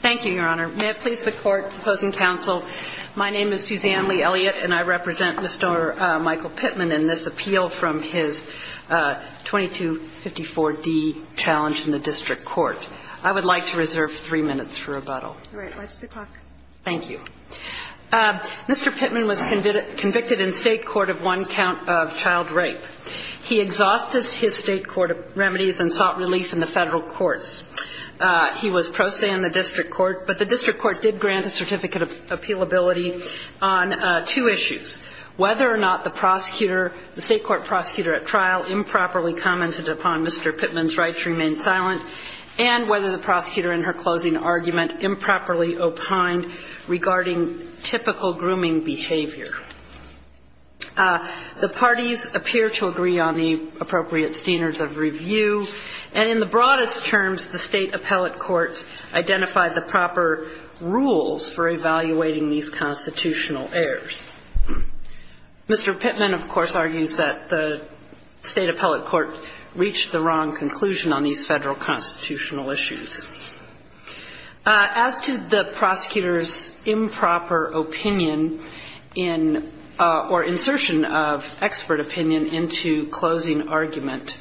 Thank you, Your Honor. May it please the Court, opposing counsel, my name is Suzanne Lee Elliott, and I represent Mr. Michael Pittman in this appeal from his 2254D challenge in the district court. I would like to reserve three minutes for rebuttal. Right. Watch the clock. Thank you. Mr. Pittman was convicted in state court of one count of child rape. He exhausted his state court remedies and sought relief in the federal courts. He was pro se in the district court, but the district court did grant a certificate of appealability on two issues. Whether or not the prosecutor, the state court prosecutor at trial improperly commented upon Mr. Pittman's rights remained silent, and whether the prosecutor in her closing argument improperly opined regarding typical grooming behavior. The parties appear to agree on the appropriate standards of review, and in the broadest terms, the state appellate court identified the proper rules for evaluating these constitutional errors. Mr. Pittman, of course, argues that the state appellate court reached the wrong conclusion on these federal constitutional issues. As to the prosecutor's improper opinion in, or insertion of expert opinion into closing argument,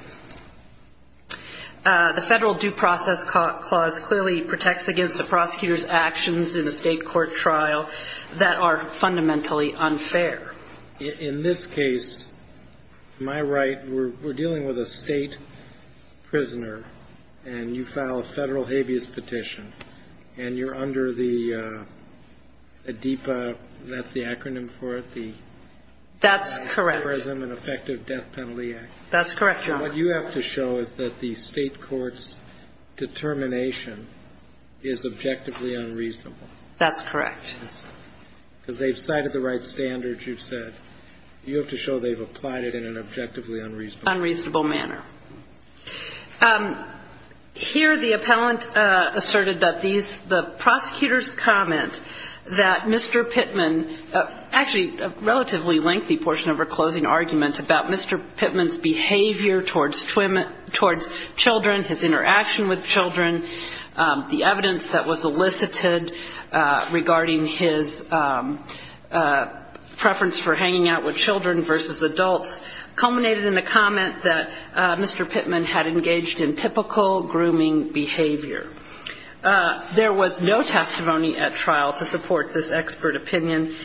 the federal due process clause clearly protects against a prosecutor's actions in a state court trial that are fundamentally unfair. In this case, am I right, we're dealing with a state prisoner, and you file a federal habeas petition, and you're under the ADEPA, that's the acronym for it? That's correct. The Adversary Prison and Effective Death Penalty Act. That's correct, Your Honor. And what you have to show is that the state court's determination is objectively unreasonable. That's correct. Because they've cited the right standards, you've said. You have to show they've applied it in an objectively unreasonable manner. Unreasonable manner. Here the appellant asserted that these, the prosecutor's comment that Mr. Pittman, actually a relatively lengthy portion of her closing argument about Mr. Pittman's behavior towards children, his interaction with children, the evidence that was elicited regarding his preference for hanging out with children versus adults, culminated in the comment that Mr. Pittman had engaged in typical grooming behavior. There was no testimony at trial to support this expert opinion.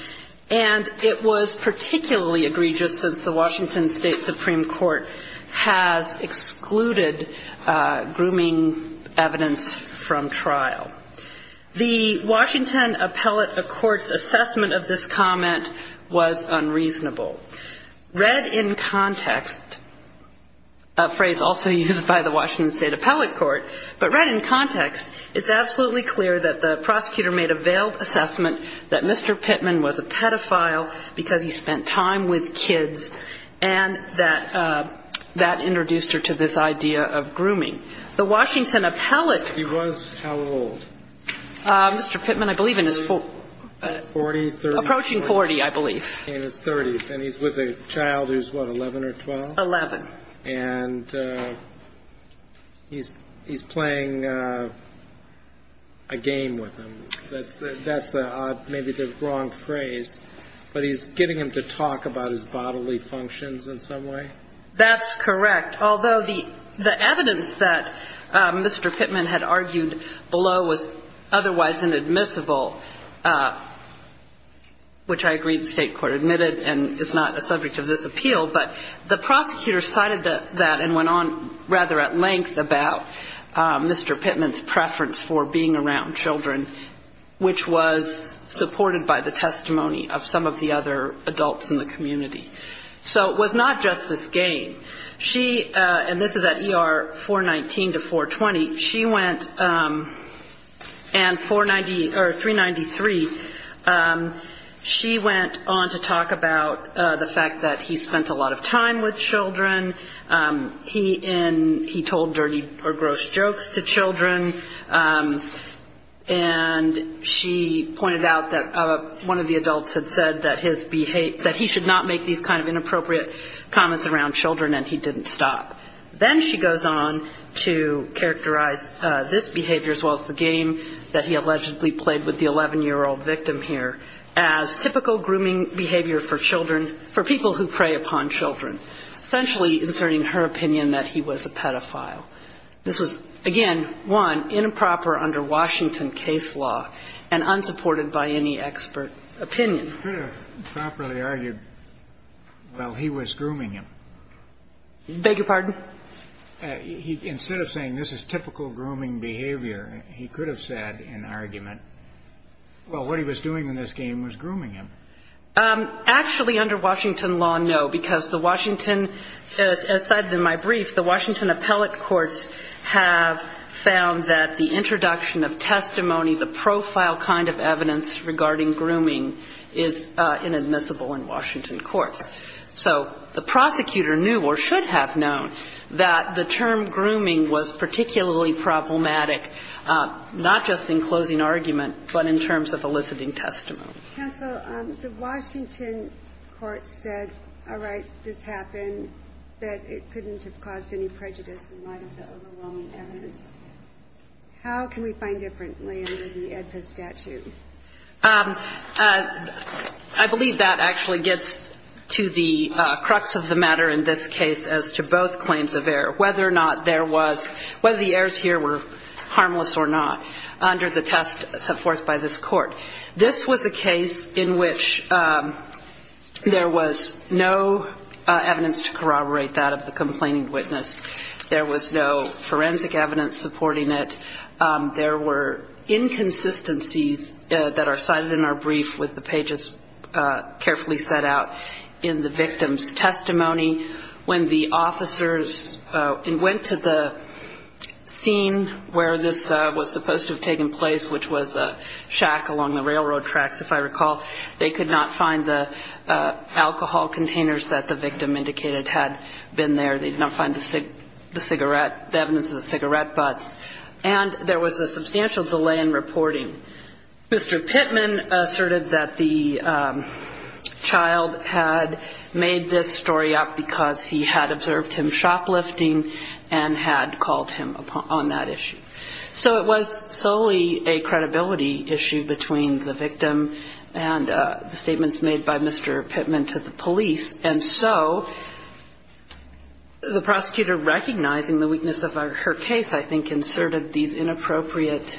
And it was particularly egregious since the Washington State Supreme Court has excluded grooming evidence from trial. The Washington Appellate Court's assessment of this comment was unreasonable. Read in context, a phrase also used by the Washington State Appellate Court, but read in context, it's absolutely clear that the prosecutor made a veiled assessment that Mr. Pittman was a pedophile because he spent time with kids, and that that introduced her to this idea of grooming. The Washington Appellate. He was how old? Mr. Pittman, I believe in his 40s. Approaching 40, I believe. In his 30s. And he's with a child who's, what, 11 or 12? 11. And he's playing a game with him. That's an odd, maybe the wrong phrase, but he's getting him to talk about his bodily functions in some way? That's correct. Although the evidence that Mr. Pittman had argued below was otherwise inadmissible, which I agree the state court admitted and is not a subject of this appeal, but the prosecutor cited that and went on rather at length about Mr. Pittman's preference for being around children, which was supported by the testimony of some of the other adults in the community. So it was not just this game. She, and this is at ER 419 to 420, she went and 490, or 393, she went on to talk about the fact that he spent a lot of time with children. He told dirty or gross jokes to children, and she pointed out that one of the adults had said that he should not make these kind of inappropriate comments around children, and he didn't stop. Then she goes on to characterize this behavior as well as the game that he allegedly played with the 11-year-old victim here as typical grooming behavior for children for people who prey upon children, essentially inserting her opinion that he was a pedophile. This was, again, one, improper under Washington case law and unsupported by any expert opinion. He could have properly argued, well, he was grooming him. Beg your pardon? Instead of saying this is typical grooming behavior, he could have said in argument, well, what he was doing in this game was grooming him. Actually, under Washington law, no, because the Washington, as cited in my brief, the Washington appellate courts have found that the introduction of testimony, the profile kind of evidence regarding grooming is inadmissible in Washington courts. So the prosecutor knew or should have known that the term grooming was particularly problematic, not just in closing argument, but in terms of eliciting testimony. Counsel, the Washington courts said, all right, this happened, that it couldn't have caused any prejudice in light of the overwhelming evidence. How can we find differently under the AEDPA statute? I believe that actually gets to the crux of the matter in this case as to both claims of error, whether or not there was, whether the errors here were harmless or not, under the test set forth by this court. This was a case in which there was no evidence to corroborate that of the complaining witness. There was no forensic evidence supporting it. There were inconsistencies that are cited in our brief with the pages carefully set out in the victim's testimony. When the officers went to the scene where this was supposed to have taken place, which was a shack along the railroad tracks, if I recall, they could not find the alcohol containers that the victim indicated had been there. They did not find the cigarette, the evidence of the cigarette butts. And there was a substantial delay in reporting. Mr. Pittman asserted that the child had made this story up because he had observed him shoplifting and had called him on that issue. So it was solely a credibility issue between the victim and the statements made by Mr. Pittman to the police. And so the prosecutor, recognizing the weakness of her case, I think, inserted these inappropriate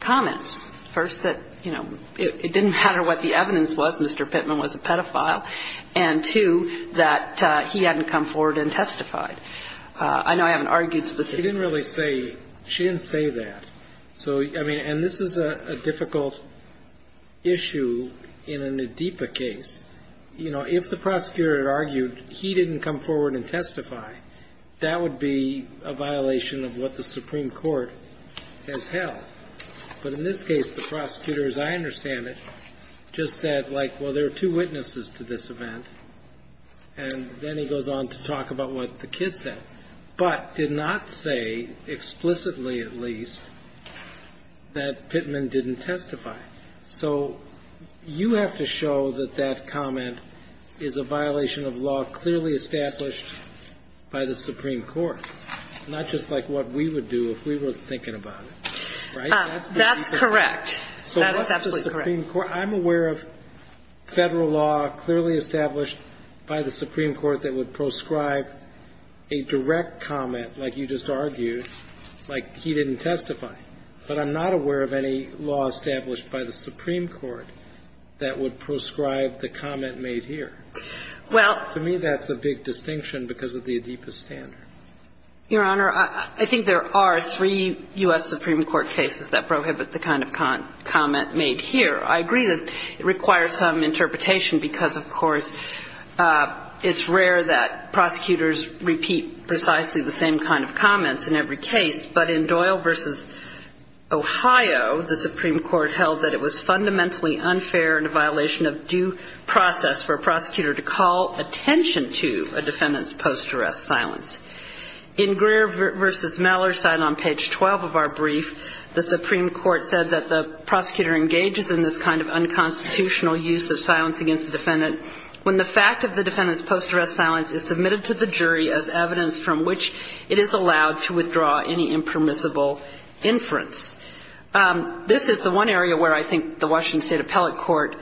comments. First, that, you know, it didn't matter what the evidence was. Mr. Pittman was a pedophile. And two, that he hadn't come forward and testified. I know I haven't argued specifically. He didn't really say, she didn't say that. So, I mean, and this is a difficult issue in a Nadeepa case. You know, if the prosecutor had argued he didn't come forward and testify, that would be a violation of what the Supreme Court has held. But in this case, the prosecutor, as I understand it, just said, like, well, there are two witnesses to this event. And then he goes on to talk about what the kid said. But did not say, explicitly at least, that Pittman didn't testify. So you have to show that that comment is a violation of law clearly established by the Supreme Court, not just like what we would do if we were thinking about it. Right? That's correct. That is absolutely correct. So what's the Supreme Court? I'm aware of Federal law clearly established by the Supreme Court that would proscribe a direct comment, like you just argued, like he didn't testify. But I'm not aware of any law established by the Supreme Court that would proscribe the comment made here. To me, that's a big distinction because of the Adipa standard. Your Honor, I think there are three U.S. Supreme Court cases that prohibit the kind of comment made here. I agree that it requires some interpretation because, of course, it's rare that prosecutors repeat precisely the same kind of comments in every case. But in Doyle v. Ohio, the Supreme Court held that it was fundamentally unfair and a violation of due process for a prosecutor to call attention to a defendant's post-arrest silence. In Greer v. Maller's side on page 12 of our brief, the Supreme Court said that the prosecutor engages in this kind of unconstitutional use of silence against the defendant when the fact of the defendant's post-arrest silence is submitted to the jury as evidence from which it is allowed to withdraw any impermissible inference. This is the one area where I think the Washington State Appellate Court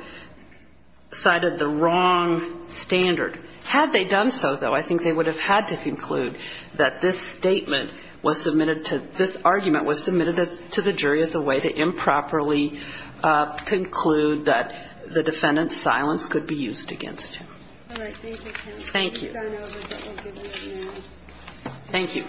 cited the wrong standard. Had they done so, though, I think they would have had to conclude that this statement was submitted to this argument was submitted to the jury as a way to improperly conclude that the defendant's silence could be used against him. All right. Thank you, counsel. Thank you. Thank you.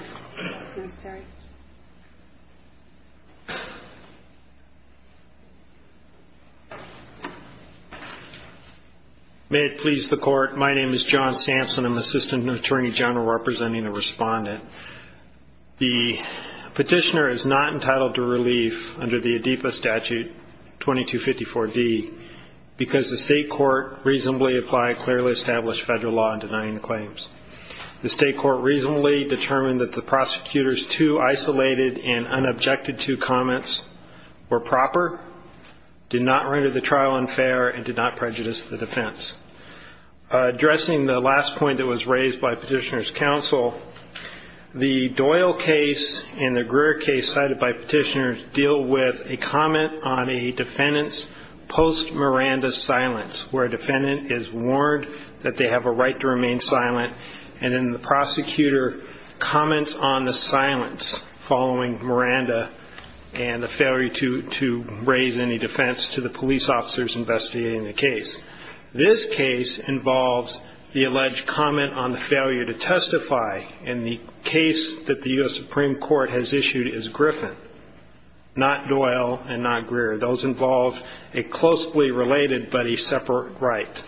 May it please the Court. My name is John Sampson. I'm Assistant Attorney General representing the respondent. The petitioner is not entitled to relief under the ADEPA statute 2254D because the State Court reasonably applied clearly established federal law in denying the claims. The State Court reasonably determined that the prosecutor's two isolated and unobjected to comments were proper, did not render the trial unfair, and did not prejudice the defense. Addressing the last point that was raised by petitioner's counsel, the Doyle case and the Miranda silence, where a defendant is warned that they have a right to remain silent and then the prosecutor comments on the silence following Miranda and the failure to raise any defense to the police officers investigating the case. This case involves the alleged comment on the failure to testify in the case that the U.S. Supreme Court has issued as Griffin, not Doyle and not Greer. Those involve a closely related but a separate right.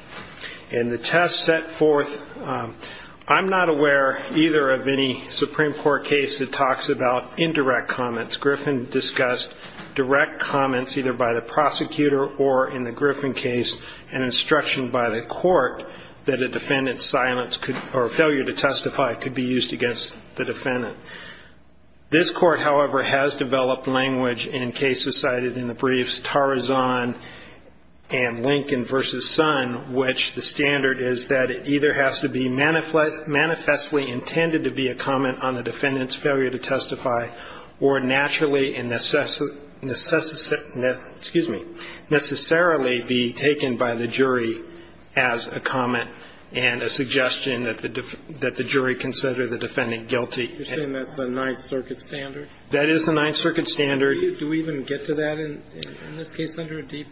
In the test set forth, I'm not aware either of any Supreme Court case that talks about indirect comments. Griffin discussed direct comments either by the prosecutor or in the Griffin case an instruction by the court that a defendant's silence or failure to testify could be used against the defendant. This court, however, has developed language in cases cited in the briefs Tarazan and Lincoln v. Sun, which the standard is that it either has to be manifestly intended to be a comment on the defendant's failure to testify or naturally and necessarily be taken by the jury as a comment and a statement. is a direct comment. That's a Ninth Circuit standard. That is the Ninth Circuit standard. Do we even get to that in this case under a deep?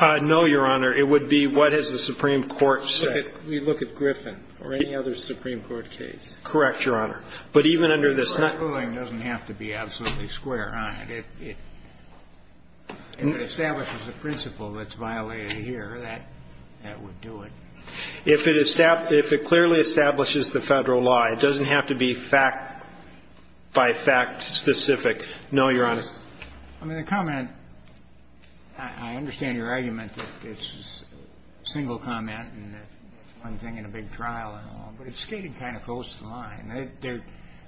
No, Your Honor. It would be what has the Supreme Court said. We look at Griffin or any other Supreme Court case. Correct, Your Honor. But even under this. The ruling doesn't have to be absolutely square. If it establishes a principle that's violated here, that would do it. If it clearly establishes the Federal law, it doesn't have to be fact by fact specific. No, Your Honor. I mean, the comment, I understand your argument that it's a single comment and it's one thing in a big trial and all. But it's skating kind of close to the line.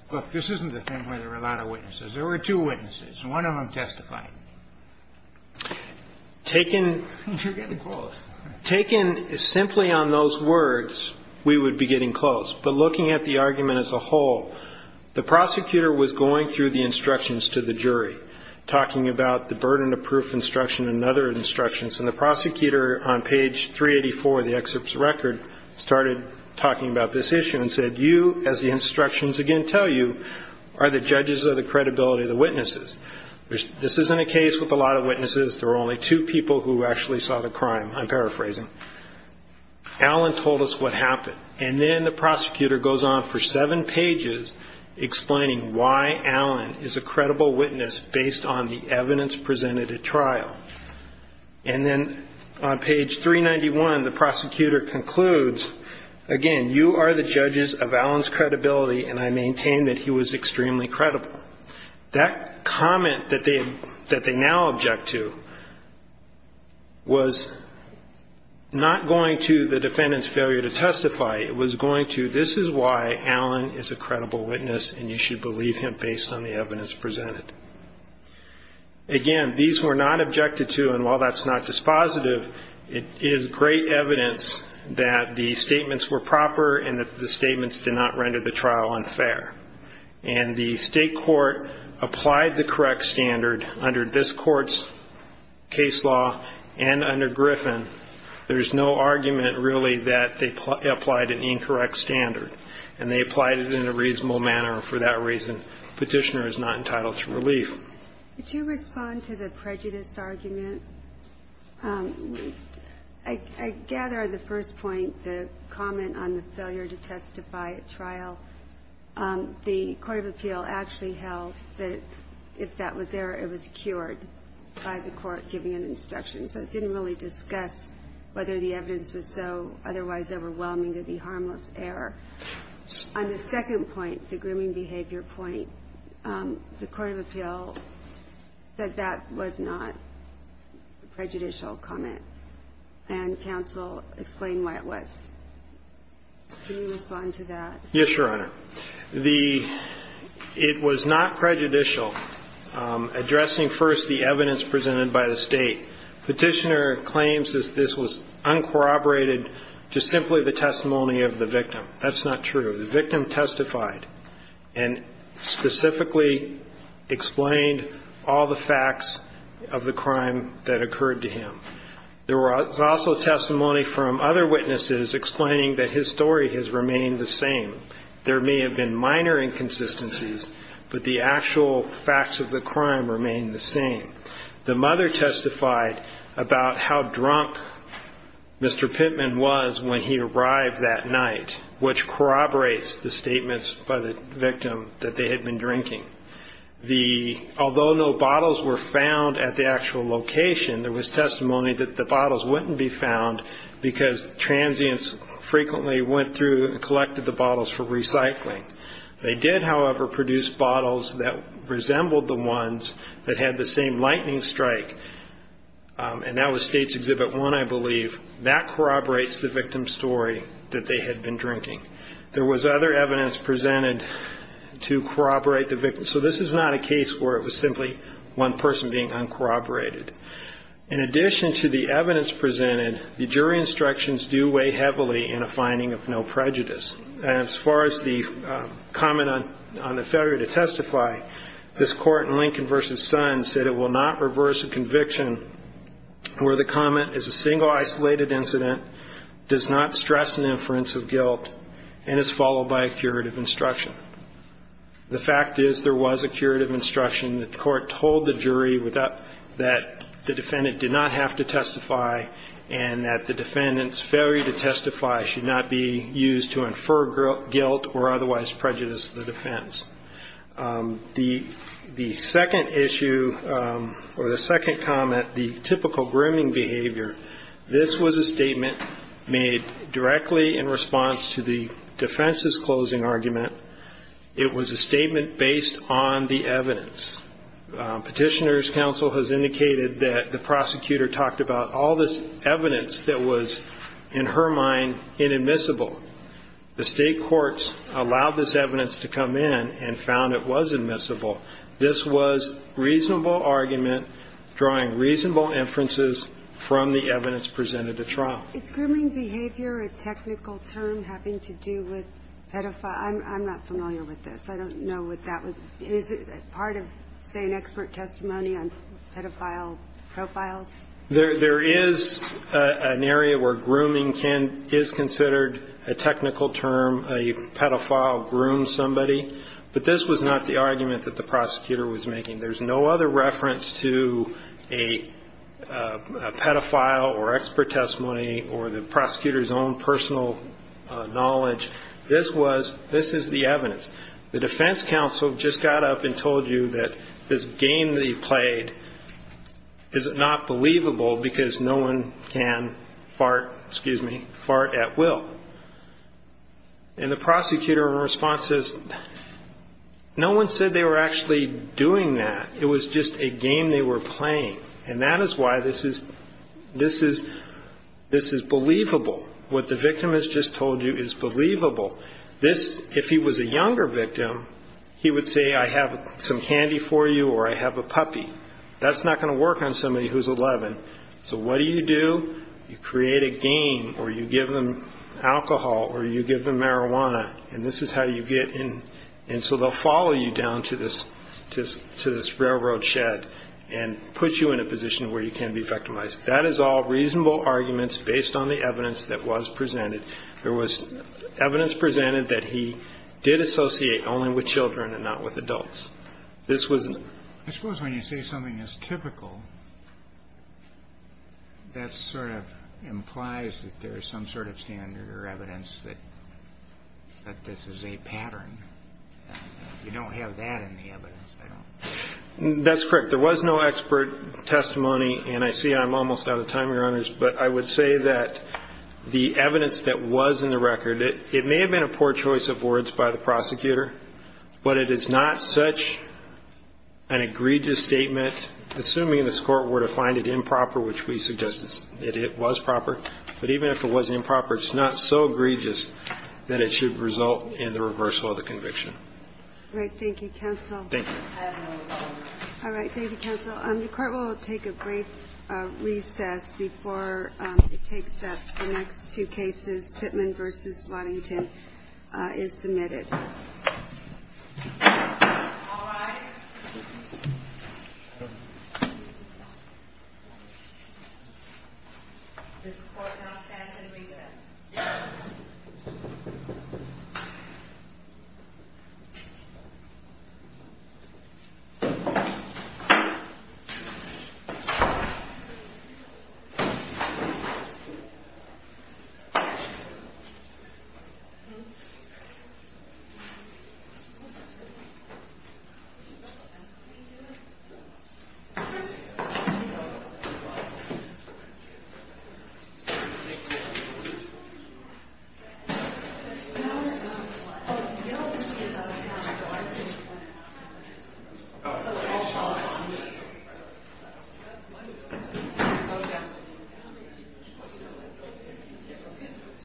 Look, this isn't the thing where there are a lot of witnesses. There were two witnesses. One of them testified. You're getting close. Taken simply on those words, we would be getting close. But looking at the argument as a whole, the prosecutor was going through the instructions to the jury, talking about the burden of proof instruction and other instructions. And the prosecutor on page 384 of the excerpt's record started talking about this issue and said, You, as the instructions again tell you, are the judges of the credibility of the witnesses. This isn't a case with a lot of witnesses. There were only two people who actually saw the crime. I'm paraphrasing. Alan told us what happened. And then the prosecutor goes on for seven pages explaining why Alan is a credible witness based on the evidence presented at trial. And then on page 391, the prosecutor concludes, Again, you are the judges of Alan's credibility, and I maintain that he was extremely credible. That comment that they now object to was not going to the defendant's failure to testify. It was going to, This is why Alan is a credible witness, and you should believe him based on the evidence presented. Again, these were not objected to, and while that's not dispositive, it is great evidence that the statements were proper and that the statements did not render the trial unfair. And the state court applied the correct standard under this court's case law and under Griffin. There's no argument, really, that they applied an incorrect standard, and they applied it in a reasonable manner. For that reason, Petitioner is not entitled to relief. Could you respond to the prejudice argument? I gather the first point, the comment on the failure to testify at trial, the court of appeal actually held that if that was there, it was cured by the court giving an instruction. So it didn't really discuss whether the evidence was so otherwise overwhelming to be harmless error. On the second point, the grooming behavior point, the court of appeal said that was not a prejudicial comment, and counsel explained why it was. Can you respond to that? Yes, Your Honor. It was not prejudicial, addressing first the evidence presented by the State. Petitioner claims that this was uncorroborated to simply the testimony of the victim. That's not true. The victim testified and specifically explained all the facts of the crime that occurred to him. There was also testimony from other witnesses explaining that his story has remained the same. There may have been minor inconsistencies, but the actual facts of the crime remain the same. The mother testified about how drunk Mr. Pittman was when he arrived that night, which corroborates the statements by the victim that they had been drinking. Although no bottles were found at the actual location, there was testimony that the bottles wouldn't be found because transients frequently went through and collected the bottles for recycling. They did, however, produce bottles that resembled the ones that had the same lightning strike, and that was State's Exhibit 1, I believe. That corroborates the victim's story that they had been drinking. There was other evidence presented to corroborate the victim, so this is not a case where it was simply one person being uncorroborated. In addition to the evidence presented, the jury instructions do weigh heavily in a finding of no prejudice. As far as the comment on the failure to testify, this Court in Lincoln v. Sons said it will not reverse a conviction where the comment is a single isolated incident, does not stress an inference of guilt, and is followed by a curative instruction. The fact is there was a curative instruction. The Court told the jury that the defendant did not have to testify and that the defendant's failure to testify should not be used to infer guilt or otherwise prejudice to the defense. The second issue or the second comment, the typical grooming behavior, this was a statement made directly in response to the defense's closing argument. It was a statement based on the evidence. Petitioner's counsel has indicated that the prosecutor talked about all this evidence that was, in her mind, inadmissible. The State courts allowed this evidence to come in and found it was admissible. This was reasonable argument drawing reasonable inferences from the evidence presented at trial. Is grooming behavior a technical term having to do with pedophile? I'm not familiar with this. I don't know what that would be. Is it part of, say, an expert testimony on pedophile profiles? There is an area where grooming is considered a technical term. A pedophile grooms somebody. But this was not the argument that the prosecutor was making. There's no other reference to a pedophile or expert testimony or the prosecutor's own personal knowledge. This is the evidence. The defense counsel just got up and told you that this game that he played is not believable because no one can fart at will. And the prosecutor, in response, says, no one said they were actually doing that. It was just a game they were playing. And that is why this is believable. What the victim has just told you is believable. If he was a younger victim, he would say, I have some candy for you or I have a puppy. That's not going to work on somebody who's 11. So what do you do? You create a game or you give them alcohol or you give them marijuana, and this is how you get in. And so they'll follow you down to this railroad shed and put you in a position where you can't be victimized. That is all reasonable arguments based on the evidence that was presented. There was evidence presented that he did associate only with children and not with adults. I suppose when you say something is typical, that sort of implies that there is some sort of standard or evidence that this is a pattern. You don't have that in the evidence. That's correct. There was no expert testimony, and I see I'm almost out of time, Your Honors, but I would say that the evidence that was in the record, it may have been a poor choice of words by the prosecutor, but it is not such an egregious statement. Assuming this Court were to find it improper, which we suggest it was proper, but even if it was improper, it's not so egregious that it should result in the reversal of the conviction. Thank you, Counsel. The Court will take a brief recess before it takes up the next two cases. Pittman v. Waddington is submitted. Thank you. Thank you.